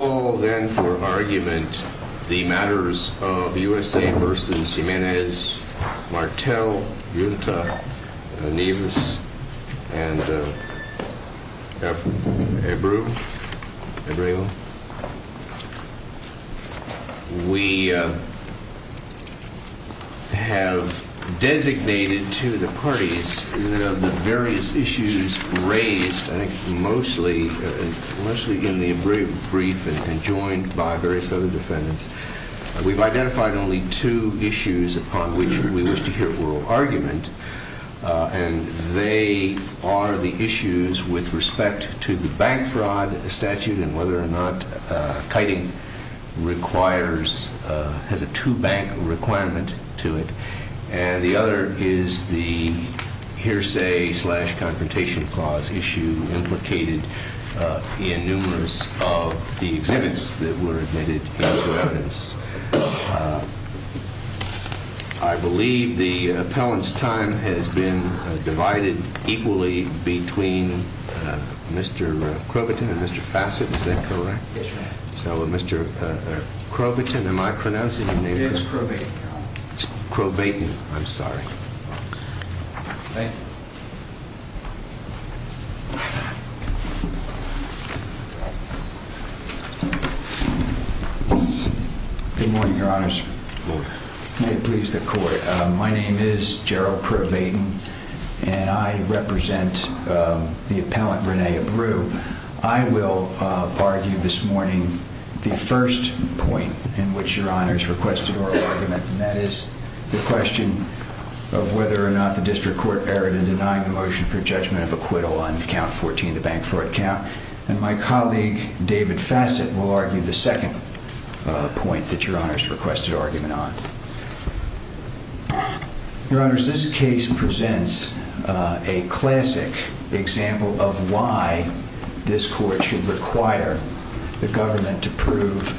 I call then for argument the matters of U.S.A. v. Jimenez, Martel, Junta, Nevis, and Ebreu. We have designated to the parties the various issues raised mostly in the brief and joined by various other defendants. We've identified only two issues upon which we wish to hear oral argument. And they are the issues with respect to the bank fraud statute and whether or not kiting has a true bank requirement to it. And the other is the hearsay-slash-confrontation clause issue implicated in numerous of the exhibits that were admitted into evidence. I believe the appellant's time has been divided equally between Mr. Croviton and Mr. Fassett. Is that correct? Yes, sir. So Mr. Croviton, am I pronouncing your name correctly? It's Crobaton. Crobaton. I'm sorry. Thank you. Good morning, your honors. Good morning. May it please the court. My name is Gerald Crobaton, and I represent the appellant, Rene Ebreu. I will argue this morning the first point in which your honors requested oral argument, and that is the question of whether or not the district court erred in denying the motion for judgment of acquittal on count 14, the bank fraud count. And my colleague, David Fassett, will argue the second point that your honors requested argument on. Your honors, this case presents a classic example of why this court should require the government to prove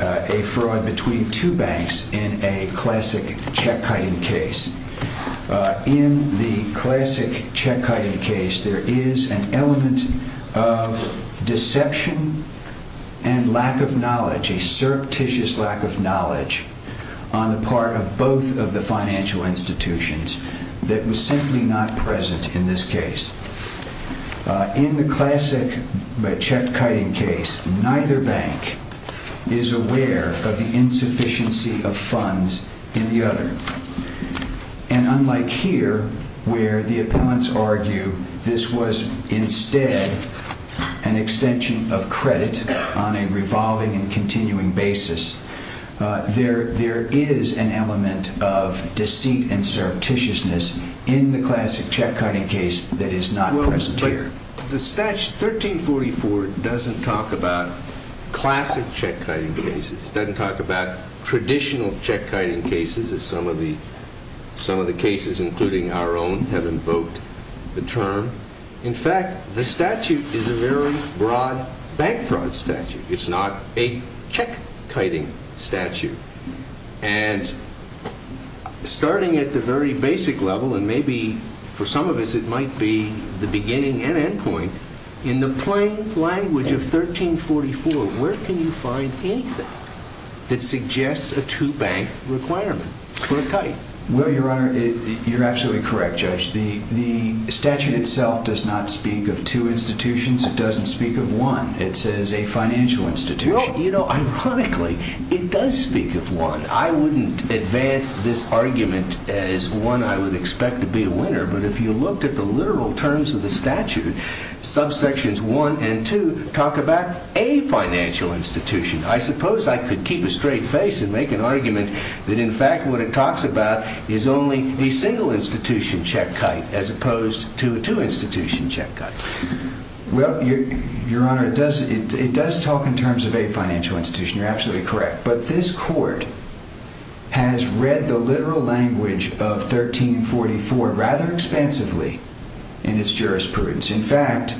a fraud between two banks in a classic check-kiting case. In the classic check-kiting case, there is an element of deception and lack of knowledge, a surreptitious lack of knowledge, on the part of both of the financial institutions that was simply not present in this case. In the classic check-kiting case, neither bank is aware of the insufficiency of funds in the other. And unlike here, where the appellants argue this was instead an extension of credit on a revolving and continuing basis, there is an element of deceit and surreptitiousness in the classic check-kiting case that is not present here. The statute 1344 doesn't talk about classic check-kiting cases. It doesn't talk about traditional check-kiting cases, as some of the cases, including our own, have invoked the term. In fact, the statute is a very broad bank fraud statute. It's not a check-kiting statute. And starting at the very basic level, and maybe for some of us it might be the beginning and end point, in the plain language of 1344, where can you find anything that suggests a two-bank requirement for a kite? Well, Your Honor, you're absolutely correct, Judge. The statute itself does not speak of two institutions. It doesn't speak of one. It says a financial institution. Well, you know, ironically, it does speak of one. I wouldn't advance this argument as one I would expect to be a winner. But if you looked at the literal terms of the statute, subsections 1 and 2 talk about a financial institution. I suppose I could keep a straight face and make an argument that, in fact, what it talks about is only a single institution check kite, as opposed to a two institution check kite. Well, Your Honor, it does talk in terms of a financial institution. You're absolutely correct. But this Court has read the literal language of 1344 rather expansively in its jurisprudence. In fact,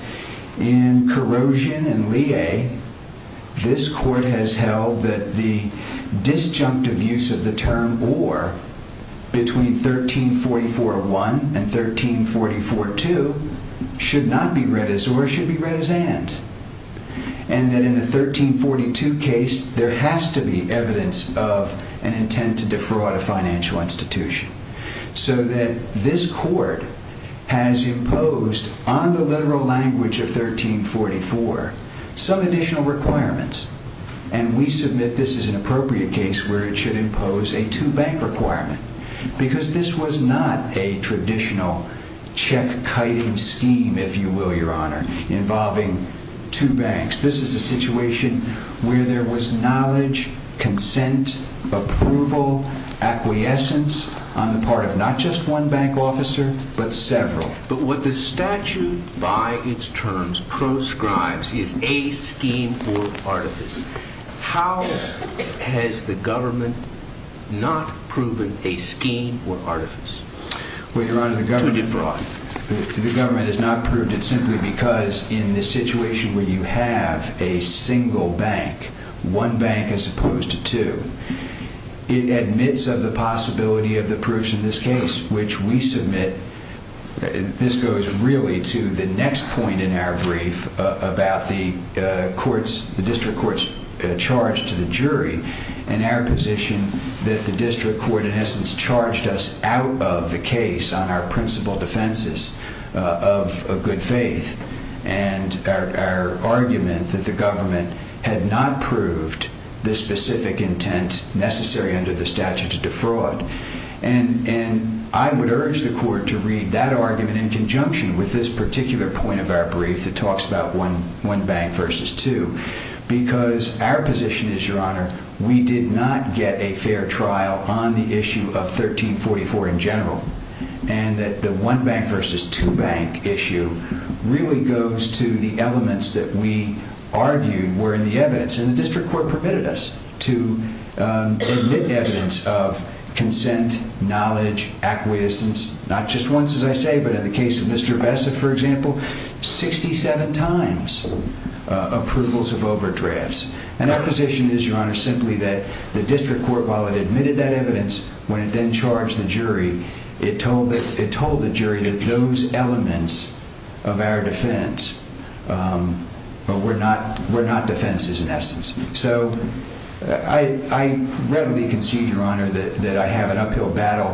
in Corrosion and Lea, this Court has held that the disjunctive use of the term or, between 1344.1 and 1344.2, should not be read as or, it should be read as and. And that in the 1342 case, there has to be evidence of an intent to defraud a financial institution. So that this Court has imposed on the literal language of 1344 some additional requirements. And we submit this is an appropriate case where it should impose a two bank requirement. Because this was not a traditional check kiting scheme, if you will, Your Honor, involving two banks. This is a situation where there was knowledge, consent, approval, acquiescence on the part of not just one bank officer, but several. But what the statute by its terms proscribes is a scheme or artifice. How has the government not proven a scheme or artifice? Well, Your Honor, the government has not proved it simply because in this situation where you have a single bank, one bank as opposed to two, it admits of the possibility of the proofs in this case, which we submit. This goes really to the next point in our brief about the courts, the district courts charged to the jury. And our position that the district court in essence charged us out of the case on our principal defenses of good faith. And our argument that the government had not proved this specific intent necessary under the statute of defraud. And I would urge the court to read that argument in conjunction with this particular point of our brief that talks about one bank versus two. Because our position is, Your Honor, we did not get a fair trial on the issue of 1344 in general. And that the one bank versus two bank issue really goes to the elements that we argued were in the evidence. And the district court permitted us to admit evidence of consent, knowledge, acquiescence. Not just once, as I say, but in the case of Mr. Vessa, for example, 67 times approvals of overdrafts. And our position is, Your Honor, simply that the district court, while it admitted that evidence, when it then charged the jury, it told the jury that those elements of our defense were not defenses in essence. So I readily concede, Your Honor, that I have an uphill battle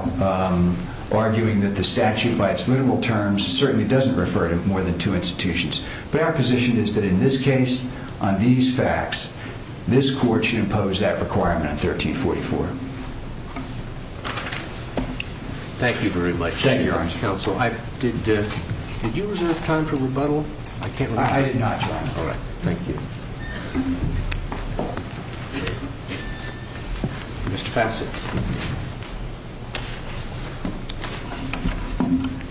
arguing that the statute by its literal terms certainly doesn't refer to more than two institutions. But our position is that in this case, on these facts, this court should impose that requirement on 1344. Thank you very much. Thank you, Your Honor. Counsel, did you reserve time for rebuttal? I did not, Your Honor. All right. Mr. Fassett.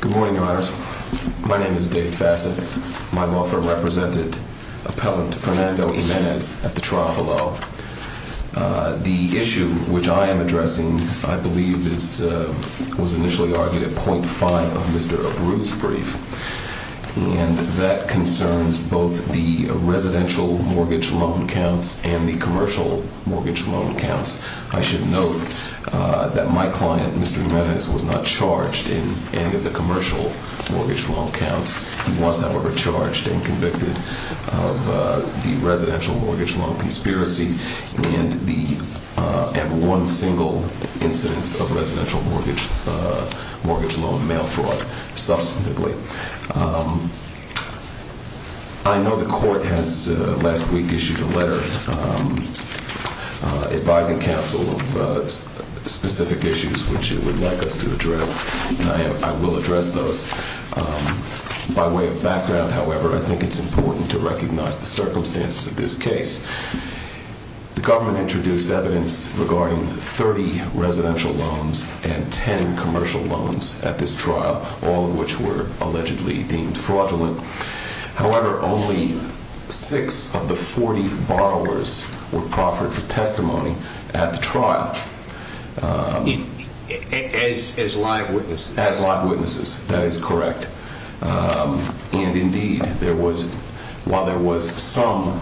Good morning, Your Honor. My name is Dave Fassett. My law firm represented Appellant Fernando Jimenez at the trial below. The issue which I am addressing, I believe, was initially argued at .5 of Mr. Abreu's brief. And that concerns both the residential mortgage loan counts and the commercial mortgage loan counts. I should note that my client, Mr. Jimenez, was not charged in any of the commercial mortgage loan counts. He was, however, charged and convicted of the residential mortgage loan conspiracy and one single incidence of residential mortgage loan mail fraud, substantively. I know the court has last week issued a letter advising counsel of specific issues which it would like us to address, and I will address those. By way of background, however, I think it's important to recognize the circumstances of this case. The government introduced evidence regarding 30 residential loans and 10 commercial loans at this trial, all of which were allegedly deemed fraudulent. However, only 6 of the 40 borrowers were proffered for testimony at the trial. As live witnesses? As live witnesses, that is correct. And indeed, while there was some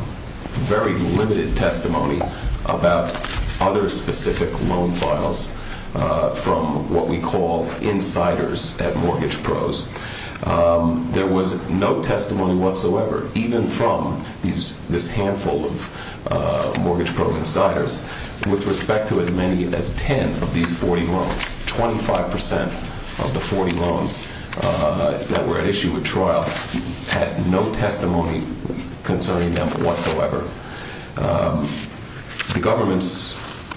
very limited testimony about other specific loan files from what we call insiders at Mortgage Pros, there was no testimony whatsoever, even from this handful of Mortgage Pro insiders, with respect to as many as 10 of these 40 loans. 25% of the 40 loans that were at issue at trial had no testimony concerning them whatsoever. The government's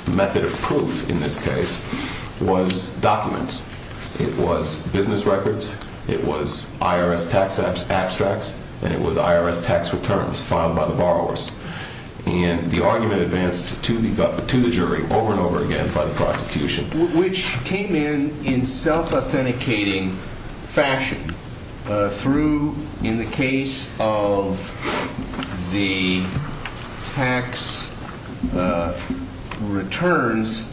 method of proof in this case was documents. It was business records, it was IRS tax abstracts, and it was IRS tax returns filed by the borrowers. And the argument advanced to the jury over and over again by the prosecution. Which came in in self-authenticating fashion through, in the case of the tax returns,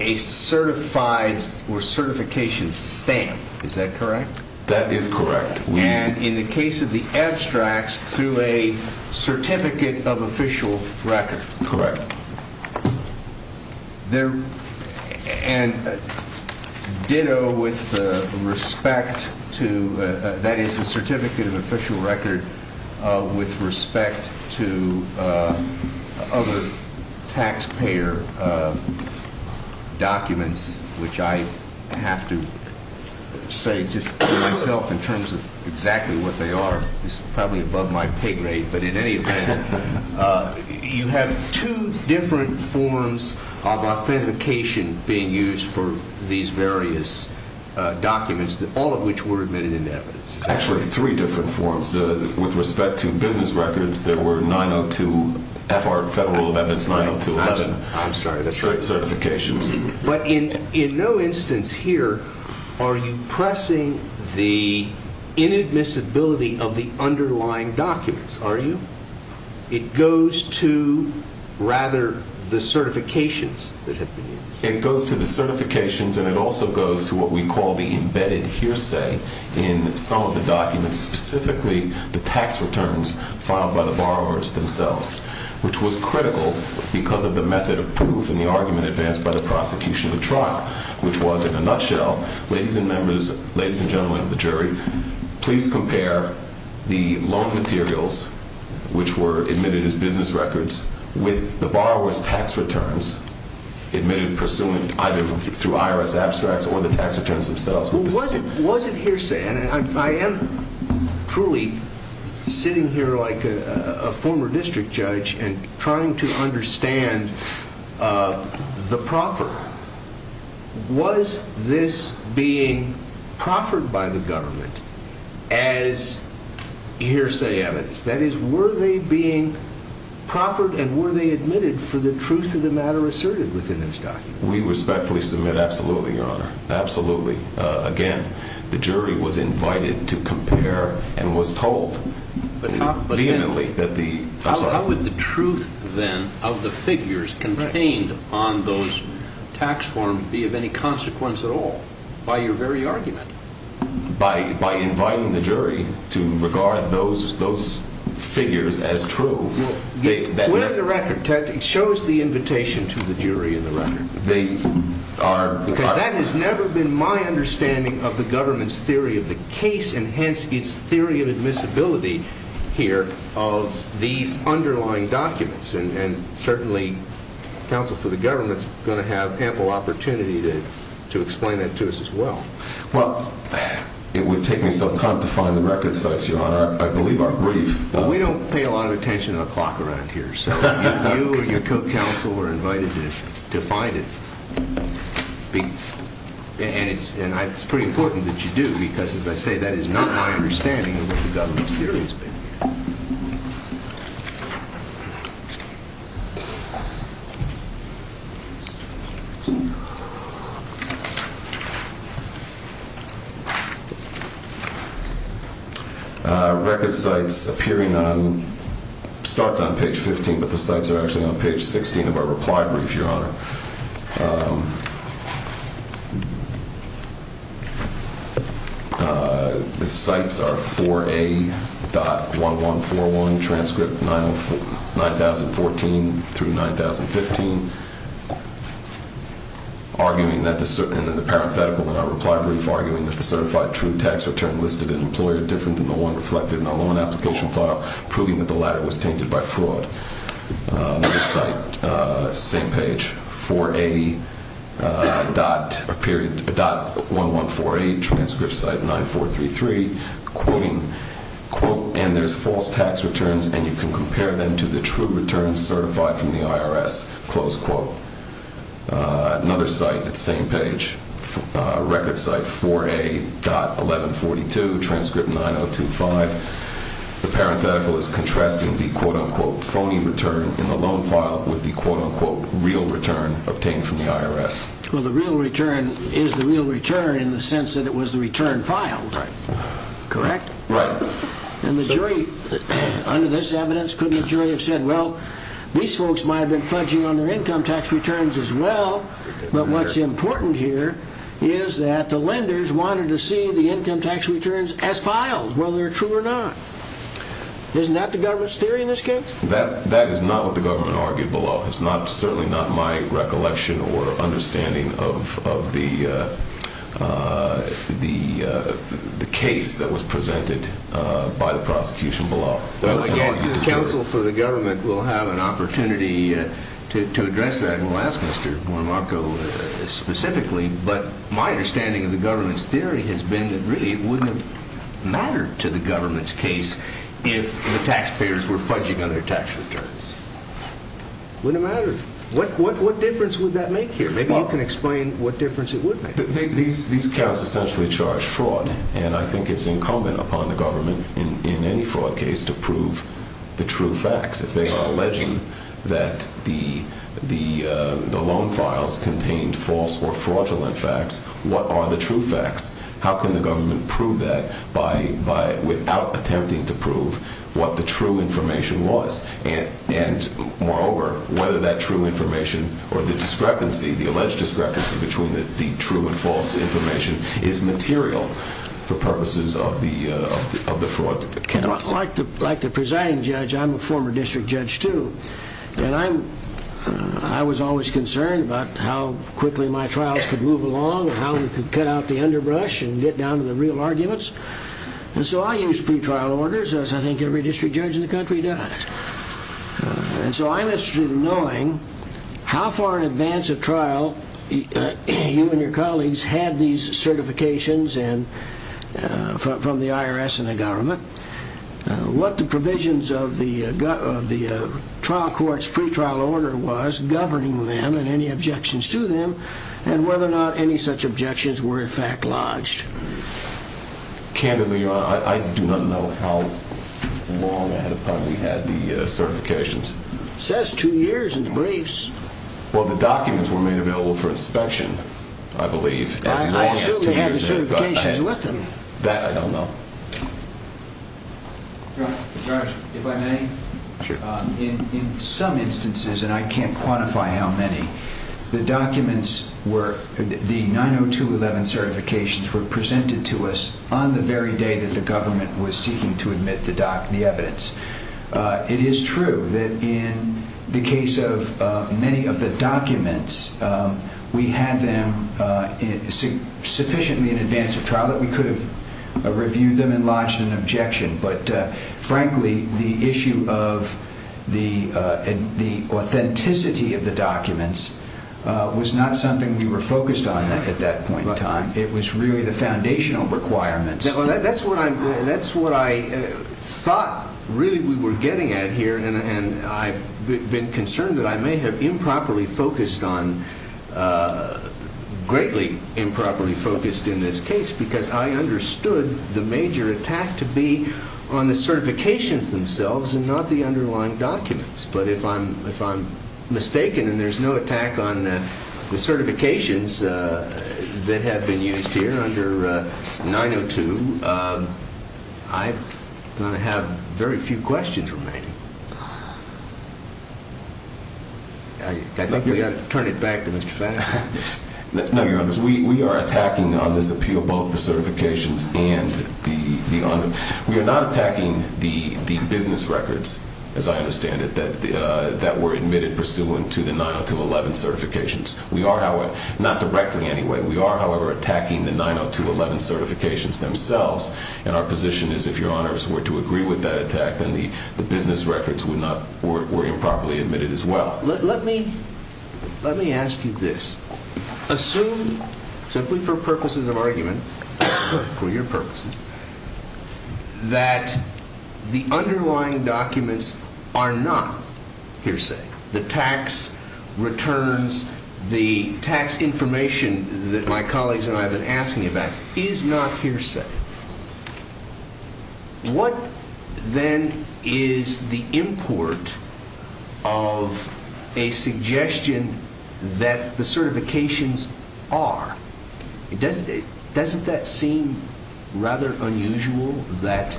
a certified or certification stamp. Is that correct? That is correct. And in the case of the abstracts, through a certificate of official record. Correct. And ditto with respect to, that is, a certificate of official record with respect to other taxpayer documents, which I have to say just for myself in terms of exactly what they are, is probably above my pay grade. But in any event, you have two different forms of authentication being used for these various documents, all of which were admitted into evidence. Actually, three different forms. With respect to business records, there were 902 FR, Federal Evidence 90211 certifications. But in no instance here are you pressing the inadmissibility of the underlying documents, are you? It goes to, rather, the certifications. It goes to the certifications and it also goes to what we call the embedded hearsay in some of the documents, specifically the tax returns filed by the borrowers themselves. Which was critical because of the method of proof in the argument advanced by the prosecution of the trial, which was, in a nutshell, ladies and gentlemen of the jury, please compare the loan materials, which were admitted as business records, with the borrower's tax returns admitted pursuant either through IRS abstracts or the tax returns themselves. Was it hearsay? And I am truly sitting here like a former district judge and trying to understand the proffer. Was this being proffered by the government as hearsay evidence? That is, were they being proffered and were they admitted for the truth of the matter asserted within those documents? We respectfully submit absolutely, Your Honor. Absolutely. Again, the jury was invited to compare and was told vehemently that the... How would the truth, then, of the figures contained on those tax forms be of any consequence at all by your very argument? By inviting the jury to regard those figures as true... In the record, Ted, it shows the invitation to the jury in the record. Because that has never been my understanding of the government's theory of the case, and hence its theory of admissibility here of these underlying documents. And certainly, counsel for the government is going to have ample opportunity to explain that to us as well. Well, it would take me some time to find the record sites, Your Honor. I believe our brief... We don't pay a lot of attention to the clock around here, so if you or your co-counsel were invited to find it, and it's pretty important that you do because, as I say, that is not my understanding of what the government's theory has been. Record sites appearing on... Starts on page 15, but the sites are actually on page 16 of our reply brief, Your Honor. The sites are 4A.1141, transcript 9014 through 9015, arguing that the... And in the parenthetical in our reply brief, arguing that the certified true tax return listed in employer different than the one reflected in the loan application file, proving that the latter was tainted by fraud. Another site, same page, 4A.1148, transcript site 9433, quoting, quote, and there's false tax returns and you can compare them to the true returns certified from the IRS, close quote. Another site, same page, record site 4A.1142, transcript 9025. The parenthetical is contrasting the, quote, unquote, phony return in the loan file with the, quote, unquote, real return obtained from the IRS. Well, the real return is the real return in the sense that it was the return filed, correct? Right. And the jury, under this evidence, couldn't the jury have said, well, these folks might have been fudging on their income tax returns as well, but what's important here is that the lenders wanted to see the income tax returns as filed, whether true or not. Isn't that the government's theory in this case? That is not what the government argued below. It's certainly not my recollection or understanding of the case that was presented by the prosecution below. Well, again, the counsel for the government will have an opportunity to address that and we'll ask Mr. Morimarco specifically, but my understanding of the government's theory has been that really it wouldn't have mattered to the government's case if the taxpayers were fudging on their tax returns. Wouldn't have mattered. What difference would that make here? Maybe you can explain what difference it would make. These counts essentially charge fraud, and I think it's incumbent upon the government in any fraud case to prove the true facts. If they are alleging that the loan files contained false or fraudulent facts, what are the true facts? How can the government prove that without attempting to prove what the true information was? Moreover, whether that true information or the discrepancy, the alleged discrepancy between the true and false information is material for purposes of the fraud counsel. Like the presiding judge, I'm a former district judge, too, and I was always concerned about how quickly my trials could move along and how we could cut out the underbrush and get down to the real arguments. And so I used pre-trial orders, as I think every district judge in the country does. And so I'm interested in knowing how far in advance of trial you and your colleagues had these certifications from the IRS and the government, what the provisions of the trial court's pre-trial order was governing them and any objections to them, and whether or not any such objections were in fact lodged. Candidly, Your Honor, I do not know how long ahead of time we had the certifications. It says two years in the briefs. Well, the documents were made available for inspection, I believe. I assume we had the certifications with them. That I don't know. Judge, if I may? Sure. In some instances, and I can't quantify how many, the 902.11 certifications were presented to us on the very day that the government was seeking to admit the evidence. It is true that in the case of many of the documents, we had them sufficiently in advance of trial that we could have reviewed them and lodged an objection. But frankly, the issue of the authenticity of the documents was not something we were focused on at that point in time. It was really the foundational requirements. That's what I thought, really, we were getting at here. And I've been concerned that I may have improperly focused on, greatly improperly focused in this case, because I understood the major attack to be on the certifications themselves and not the underlying documents. But if I'm mistaken and there's no attack on the certifications that have been used here under 902, I'm going to have very few questions remaining. I think we ought to turn it back to Mr. Faxon. No, Your Honors. We are attacking on this appeal both the certifications and the underlying. We are not attacking the business records, as I understand it, that were admitted pursuant to the 902-11 certifications. Not directly, anyway. We are, however, attacking the 902-11 certifications themselves. And our position is if Your Honors were to agree with that attack, then the business records were improperly admitted as well. Let me ask you this. Assume, simply for purposes of argument, for your purposes, that the underlying documents are not hearsay. The tax returns, the tax information that my colleagues and I have been asking about is not hearsay. What, then, is the import of a suggestion that the certifications are? Doesn't that seem rather unusual that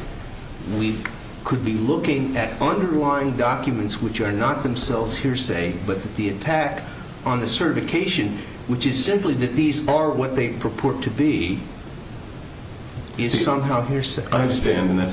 we could be looking at underlying documents which are not themselves hearsay, but that the attack on the certification, which is simply that these are what they purport to be, is somehow hearsay? I understand, and I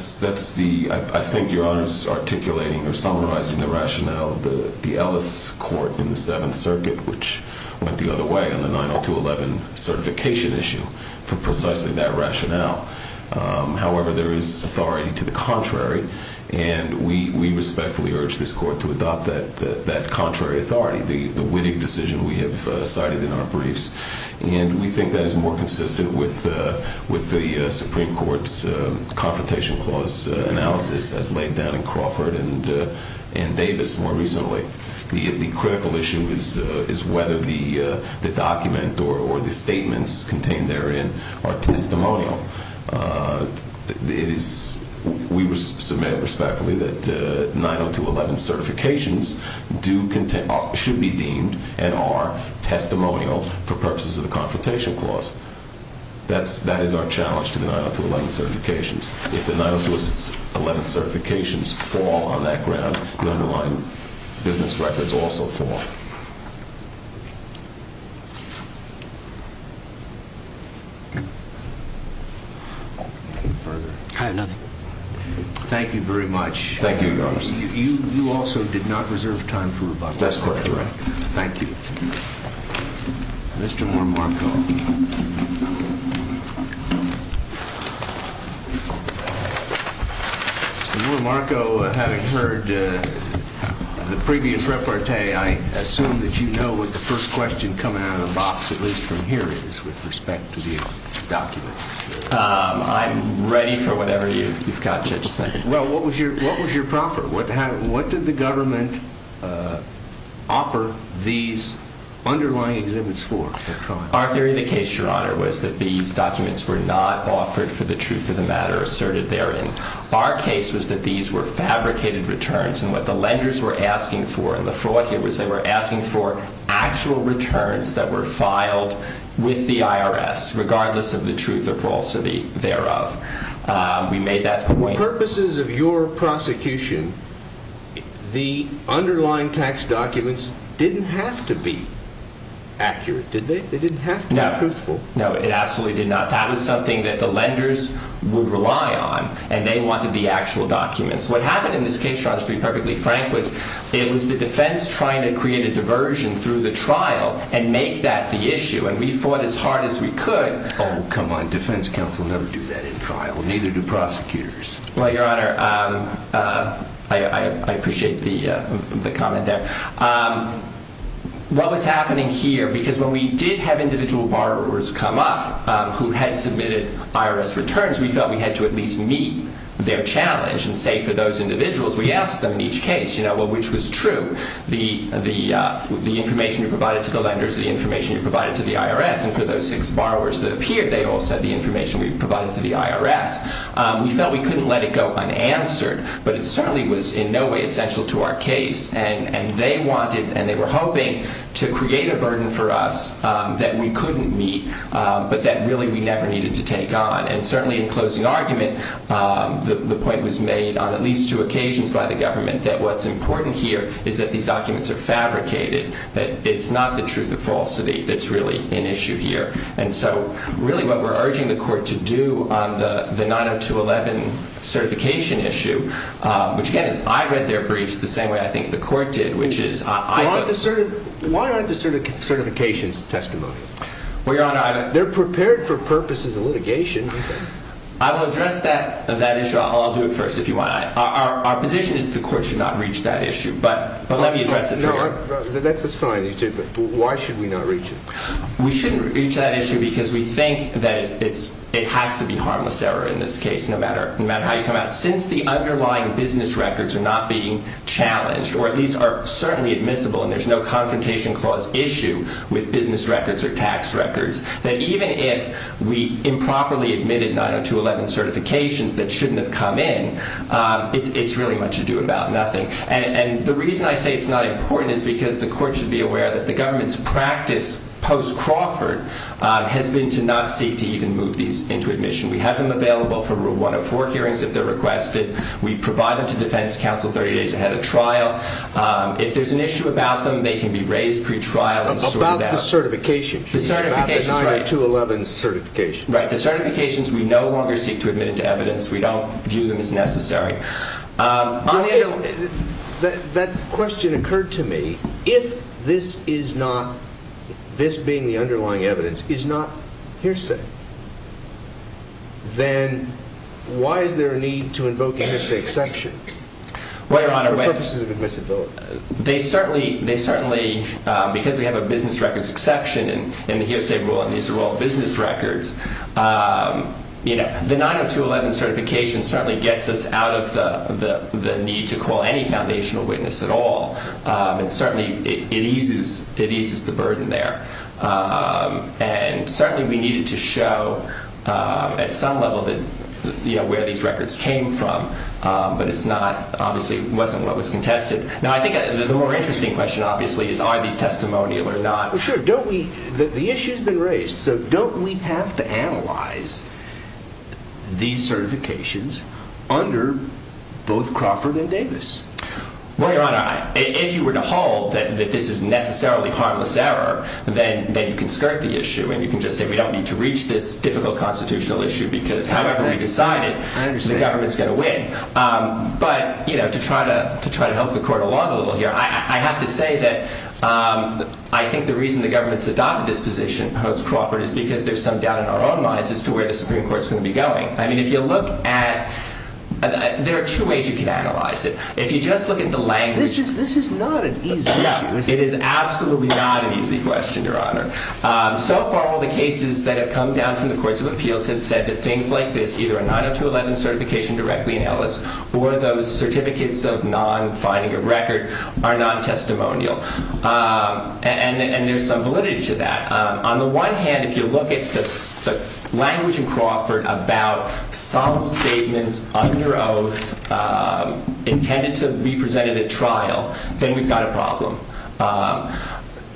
think Your Honors is articulating or summarizing the rationale of the Ellis Court in the Seventh Circuit, which went the other way on the 902-11 certification issue for precisely that rationale. However, there is authority to the contrary, and we respectfully urge this Court to adopt that contrary authority, the Wittig decision we have cited in our briefs. And we think that is more consistent with the Supreme Court's Confrontation Clause analysis as laid down in Crawford and Davis more recently. The critical issue is whether the document or the statements contained therein are testimonial. We submit respectfully that 902-11 certifications should be deemed and are testimonial for purposes of the Confrontation Clause. That is our challenge to the 902-11 certifications. If the 902-11 certifications fall on that ground, the underlying business records also fall. I have nothing. Thank you very much. Thank you, Your Honors. You also did not reserve time for rebuttal. That's correct. Thank you. Mr. Moore-Marco. Mr. Moore-Marco, having heard the previous repartee, I assume that you know what the first question coming out of the box, at least from here, is with respect to the documents. I'm ready for whatever you've got, Judge Smith. Well, what was your proffer? What did the government offer these underlying exhibits for? Our theory of the case, Your Honor, was that these documents were not offered for the truth of the matter asserted therein. Our case was that these were fabricated returns, and what the lenders were asking for and the fraud here was they were asking for actual returns that were filed with the IRS, regardless of the truth or falsity thereof. We made that point. For the purposes of your prosecution, the underlying tax documents didn't have to be accurate, did they? They didn't have to be truthful. No. No, it absolutely did not. That was something that the lenders would rely on, and they wanted the actual documents. What happened in this case, Your Honor, to be perfectly frank, was it was the defense trying to create a diversion through the trial and make that the issue, and we fought as hard as we could. Oh, come on. Defense counsel never do that in trial, neither do prosecutors. Well, Your Honor, I appreciate the comment there. What was happening here, because when we did have individual borrowers come up who had submitted IRS returns, we felt we had to at least meet their challenge and say for those individuals, we asked them in each case which was true, the information you provided to the lenders, the information you provided to the IRS, and for those six borrowers that appeared, they all said the information we provided to the IRS. We felt we couldn't let it go unanswered, but it certainly was in no way essential to our case, and they wanted and they were hoping to create a burden for us that we couldn't meet but that really we never needed to take on. And certainly in closing argument, the point was made on at least two occasions by the government that what's important here is that these documents are fabricated, that it's not the truth or falsity that's really an issue here. And so really what we're urging the court to do on the 90211 certification issue, which again is I read their briefs the same way I think the court did, which is I… Why aren't the certifications testimony? They're prepared for purpose as a litigation. I will address that issue. I'll do it first if you want. Our position is the court should not reach that issue, but let me address it for you. That's fine. Why should we not reach it? We shouldn't reach that issue because we think that it has to be harmless error in this case, no matter how you come at it. Since the underlying business records are not being challenged or at least are certainly admissible and there's no confrontation clause issue with business records or tax records, that even if we improperly admitted 90211 certifications that shouldn't have come in, it's really much ado about nothing. And the reason I say it's not important is because the court should be aware that the government's practice post-Crawford has been to not seek to even move these into admission. We have them available for rule 104 hearings if they're requested. We provide them to defense counsel 30 days ahead of trial. If there's an issue about them, they can be raised pre-trial and sorted out. About the certifications. The certifications, right. About the 90211 certifications. Right. The certifications we no longer seek to admit into evidence. We don't view them as necessary. That question occurred to me. If this is not, this being the underlying evidence, is not hearsay, then why is there a need to invoke a hearsay exception for purposes of admissibility? They certainly, because we have a business records exception and the hearsay rule on these are all business records, the 90211 certification certainly gets us out of the need to call any foundational witness at all. And certainly it eases the burden there. And certainly we needed to show at some level where these records came from. But it's not, obviously it wasn't what was contested. Now, I think the more interesting question, obviously, is are these testimonial or not? Well, sure. Don't we, the issue's been raised. So don't we have to analyze these certifications under both Crawford and Davis? Well, Your Honor, if you were to hold that this is necessarily harmless error, then you can skirt the issue. And you can just say we don't need to reach this difficult constitutional issue because however we decide it, the government's going to win. But to try to help the court along a little here, I have to say that I think the reason the government's adopted this position post-Crawford is because there's some doubt in our own minds as to where the Supreme Court's going to be going. I mean, if you look at, there are two ways you can analyze it. If you just look at the language. This is not an easy issue. No, it is absolutely not an easy question, Your Honor. So far, all the cases that have come down from the courts of appeals have said that things like this, either a 90211 certification directly in Ellis or those certificates of non-finding of record are non-testimonial. And there's some validity to that. On the one hand, if you look at the language in Crawford about some statements under oath intended to be presented at trial, then we've got a problem.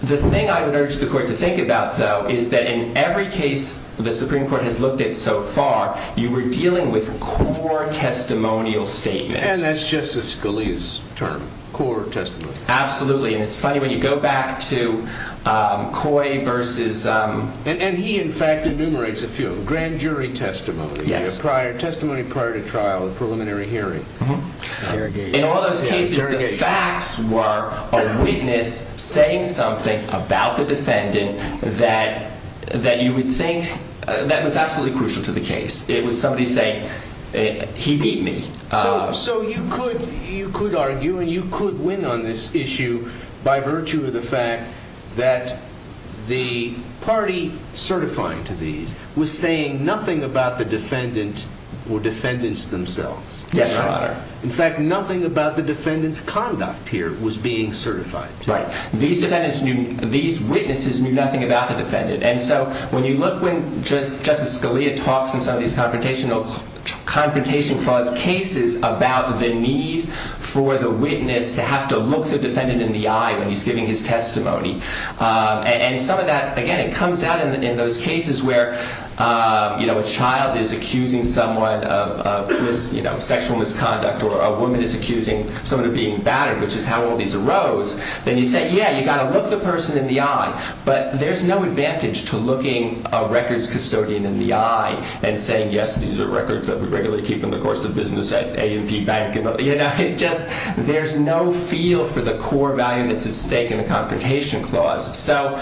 The thing I would urge the court to think about, though, is that in every case the Supreme Court has looked at so far, you were dealing with core testimonial statements. And that's Justice Scalia's term, core testimony. Absolutely. And it's funny, when you go back to Coy versus... And he, in fact, enumerates a few of them. Grand jury testimony. Yes. Testimony prior to trial, a preliminary hearing. In all those cases, the facts were a witness saying something about the defendant that you would think that was absolutely crucial to the case. It was somebody saying, he beat me. So you could argue and you could win on this issue by virtue of the fact that the party certifying to these was saying nothing about the defendant or defendants themselves. Yes, Your Honor. In fact, nothing about the defendant's conduct here was being certified. Right. These witnesses knew nothing about the defendant. And so when you look when Justice Scalia talks in some of these confrontation clause cases about the need for the witness to have to look the defendant in the eye when he's giving his testimony, and some of that, again, it comes out in those cases where a child is accusing someone of sexual misconduct or a woman is accusing someone of being battered, which is how all these arose, then you say, yeah, you've got to look the person in the eye. But there's no advantage to looking a records custodian in the eye and saying, yes, these are records that we regularly keep in the course of business at A&P Bank. There's no feel for the core value that's at stake in the confrontation clause. So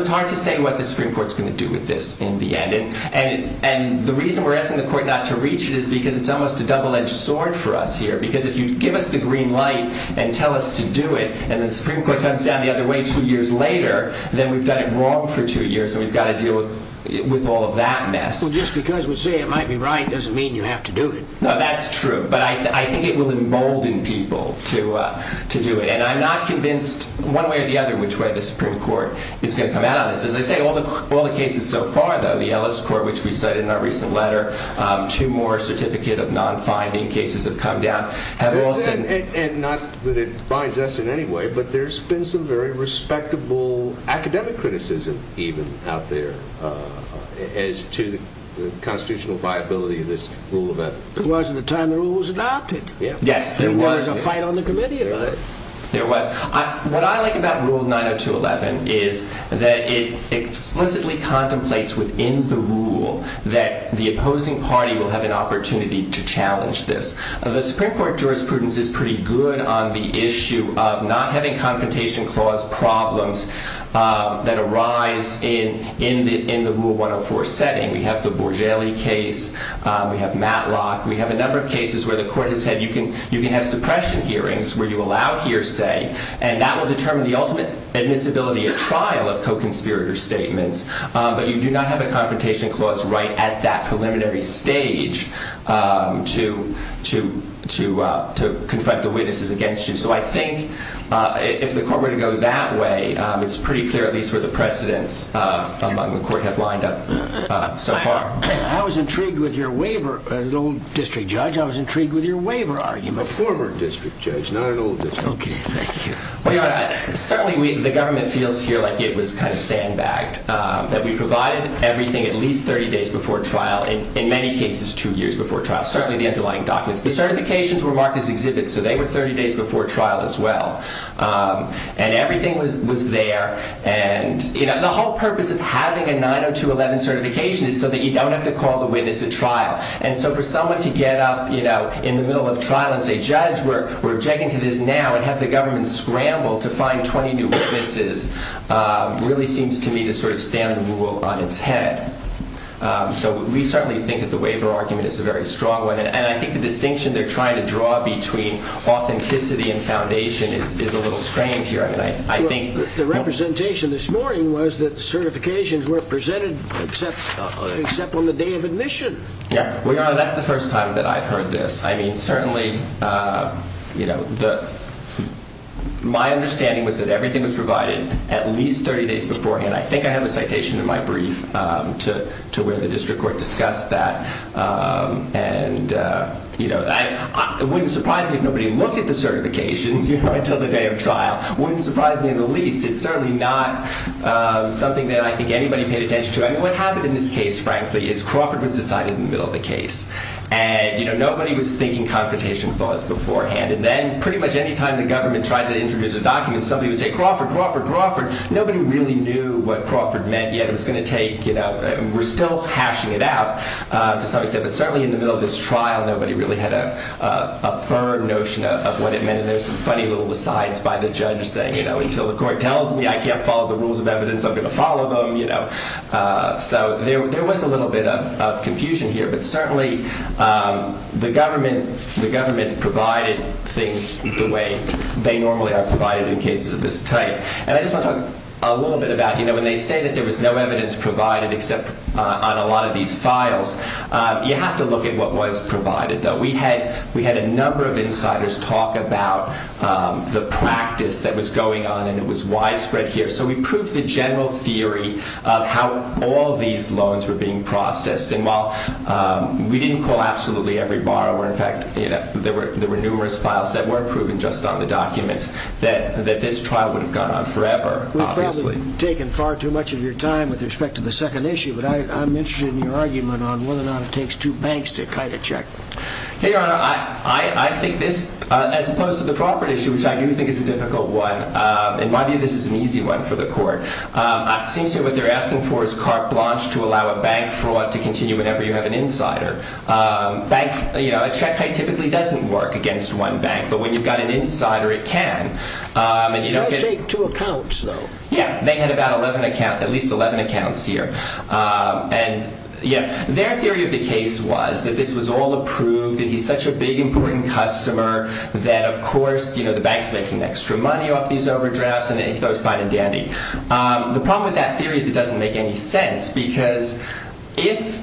it's hard to say what the Supreme Court is going to do with this in the end. And the reason we're asking the court not to reach it is because it's almost a double-edged sword for us here. Because if you give us the green light and tell us to do it and the Supreme Court comes down the other way two years later, then we've done it wrong for two years and we've got to deal with all of that mess. Well, just because we say it might be right doesn't mean you have to do it. No, that's true. But I think it will embolden people to do it. And I'm not convinced one way or the other which way the Supreme Court is going to come out on this. As I say, all the cases so far, though, the Ellis Court, which we cited in our recent letter, two more certificate of non-finding cases have come down. And not that it binds us in any way, but there's been some very respectable academic criticism even out there as to the constitutional viability of this rule of ethics. There wasn't a time the rule was adopted. Yes, there was. There was a fight on the committee about it. There was. What I like about Rule 90211 is that it explicitly contemplates within the rule that the opposing party will have an opportunity to challenge this. The Supreme Court jurisprudence is pretty good on the issue of not having confrontation clause problems that arise in the Rule 104 setting. We have the Borgelli case. We have Matlock. We have a number of cases where the court has said you can have suppression hearings where you allow hearsay. And that will determine the ultimate admissibility at trial of co-conspirator statements. But you do not have a confrontation clause right at that preliminary stage to confront the witnesses against you. So I think if the court were to go that way, it's pretty clear at least where the precedents among the court have lined up so far. I was intrigued with your waiver, old district judge. I was intrigued with your waiver argument. A former district judge, not an old district judge. OK, thank you. Certainly the government feels here like it was kind of sandbagged, that we provided everything at least 30 days before trial, in many cases two years before trial, certainly the underlying documents. The certifications were marked as exhibits, so they were 30 days before trial as well. And everything was there. And the whole purpose of having a 90211 certification is so that you don't have to call the witness at trial. And so for someone to get up in the middle of trial and say, judge, we're objecting to this now, and have the government scramble to find 20 new witnesses, really seems to me to sort of stand the rule on its head. So we certainly think that the waiver argument is a very strong one. And I think the distinction they're trying to draw between authenticity and foundation is a little strange here. The representation this morning was that certifications were presented except on the day of admission. Well, Your Honor, that's the first time that I've heard this. I mean, certainly my understanding was that everything was provided at least 30 days beforehand. I think I have a citation in my brief to where the district court discussed that. And it wouldn't surprise me if nobody looked at the certifications until the day of trial. It wouldn't surprise me in the least. It's certainly not something that I think anybody paid attention to. I mean, what happened in this case, frankly, is Crawford was decided in the middle of the case. And nobody was thinking confrontation clause beforehand. And then pretty much any time the government tried to introduce a document, somebody would say, Crawford, Crawford, Crawford. Nobody really knew what Crawford meant yet. We're still hashing it out to some extent. But certainly in the middle of this trial, nobody really had a firm notion of what it meant. And there's some funny little recites by the judge saying, until the court tells me I can't follow the rules of evidence, I'm going to follow them. So there was a little bit of confusion here. But certainly the government provided things the way they normally are provided in cases of this type. And I just want to talk a little bit about, you know, when they say that there was no evidence provided except on a lot of these files, you have to look at what was provided, though. We had a number of insiders talk about the practice that was going on, and it was widespread here. So we proved the general theory of how all these loans were being processed. And while we didn't call absolutely every borrower, in fact, there were numerous files that were proven just on the documents, that this trial would have gone on forever, obviously. We've probably taken far too much of your time with respect to the second issue, but I'm interested in your argument on whether or not it takes two banks to kite a check. Your Honor, I think this, as opposed to the property issue, which I do think is a difficult one, in my view this is an easy one for the court. It seems to me what they're asking for is carte blanche to allow a bank fraud to continue whenever you have an insider. A check kite typically doesn't work against one bank, but when you've got an insider, it can. It does take two accounts, though. Yeah, they had about at least 11 accounts here. Their theory of the case was that this was all approved and he's such a big, important customer that, of course, the bank's making extra money off these overdrafts and he throws fine and dandy. The problem with that theory is it doesn't make any sense, because if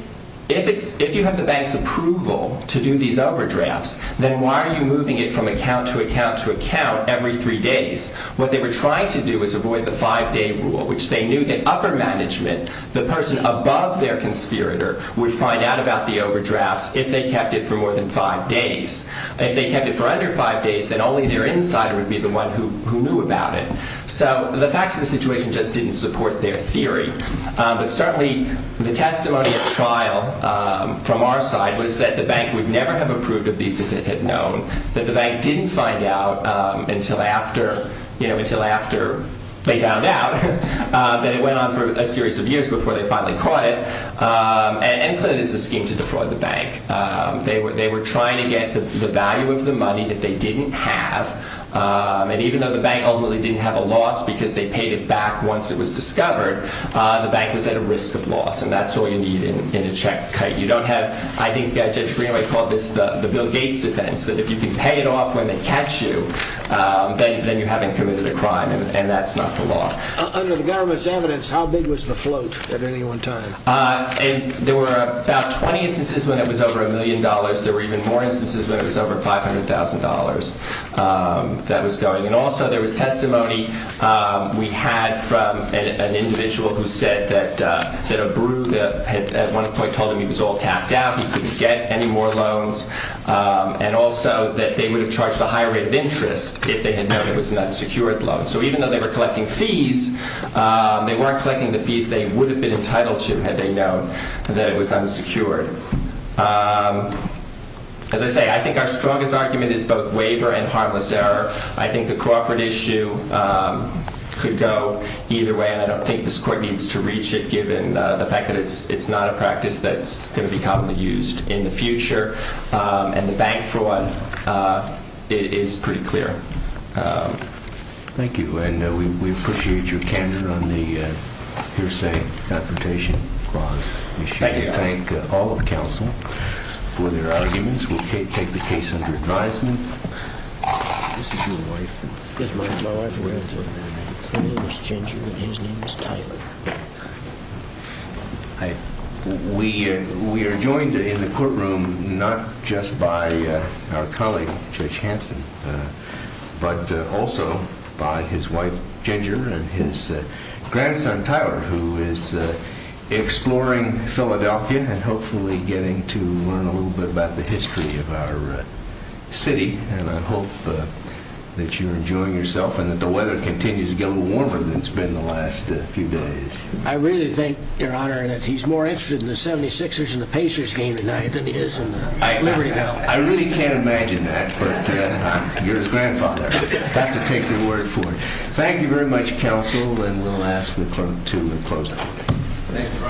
you have the bank's approval to do these overdrafts, then why are you moving it from account to account to account every three days? What they were trying to do was avoid the five-day rule, which they knew that upper management, the person above their conspirator, would find out about the overdrafts if they kept it for more than five days. If they kept it for under five days, then only their insider would be the one who knew about it. So the facts of the situation just didn't support their theory. But certainly, the testimony at trial from our side was that the bank would never have approved of these if it had known, that the bank didn't find out until after they found out that it went on for a series of years before they finally caught it. And NCLIN is a scheme to defraud the bank. They were trying to get the value of the money that they didn't have. And even though the bank ultimately didn't have a loss because they paid it back once it was discovered, the bank was at a risk of loss. And that's all you need in a check kite. You don't have, I think Judge Greenaway called this the Bill Gates defense, that if you can pay it off when they catch you, then you haven't committed a crime. And that's not the law. Under the government's evidence, how big was the float at any one time? There were about 20 instances when it was over a million dollars. There were even more instances when it was over $500,000 that was going. And also, there was testimony we had from an individual who said that a group at one point told him he was all tapped out, he couldn't get any more loans, and also that they would have charged a higher rate of interest if they had known it was an unsecured loan. So even though they were collecting fees, they weren't collecting the fees they would have been entitled to had they known that it was unsecured. As I say, I think our strongest argument is both waiver and harmless error. I think the Crawford issue could go either way, and I don't think this court needs to reach it given the fact that it's not a practice that's going to be commonly used in the future. And the bank fraud, it is pretty clear. Thank you, and we appreciate your candor on the hearsay confrontation clause. We should thank all of counsel for their arguments. We'll take the case under advisement. We are joined in the courtroom not just by our colleague, Judge Hanson, but also by his wife, Ginger, and his grandson, Tyler, who is exploring Philadelphia and hopefully getting to learn a little bit about the history of our city. And I hope that you're enjoying yourself and that the weather continues to get a little warmer than it's been in the last few days. I really think, Your Honor, that he's more interested in the 76ers and the Pacers game tonight than he is in Liberty Valley. I really can't imagine that, but you're his grandfather. You have to take the word for it. Thank you very much, counsel, and we'll ask the clerk to close the hearing. Thank you.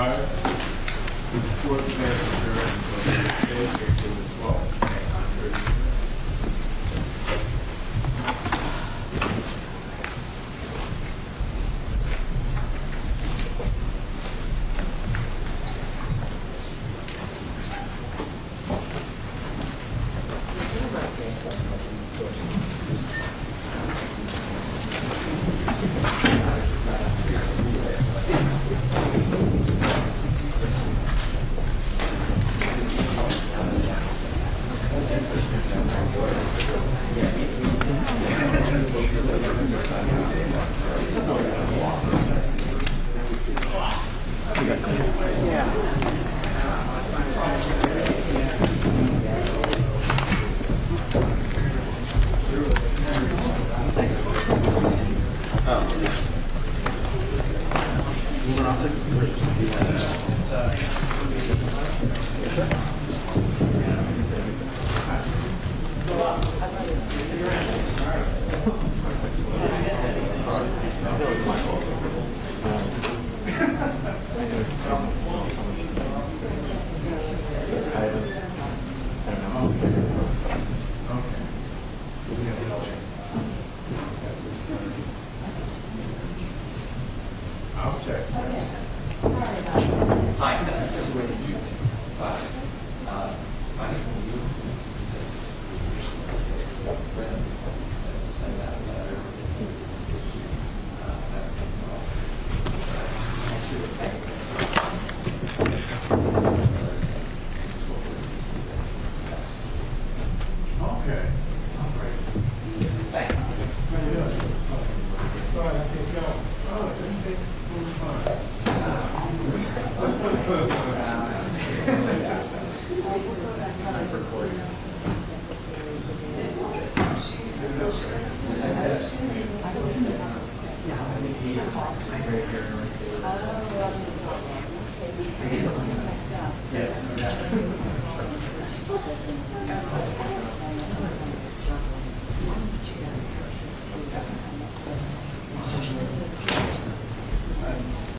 Thank you. Okay. Okay, sir. Hi. Hi. I'm not sure where to do this, but my name is William. Okay. Great. Thanks. How you doing? All right, let's get going, all ready? All right.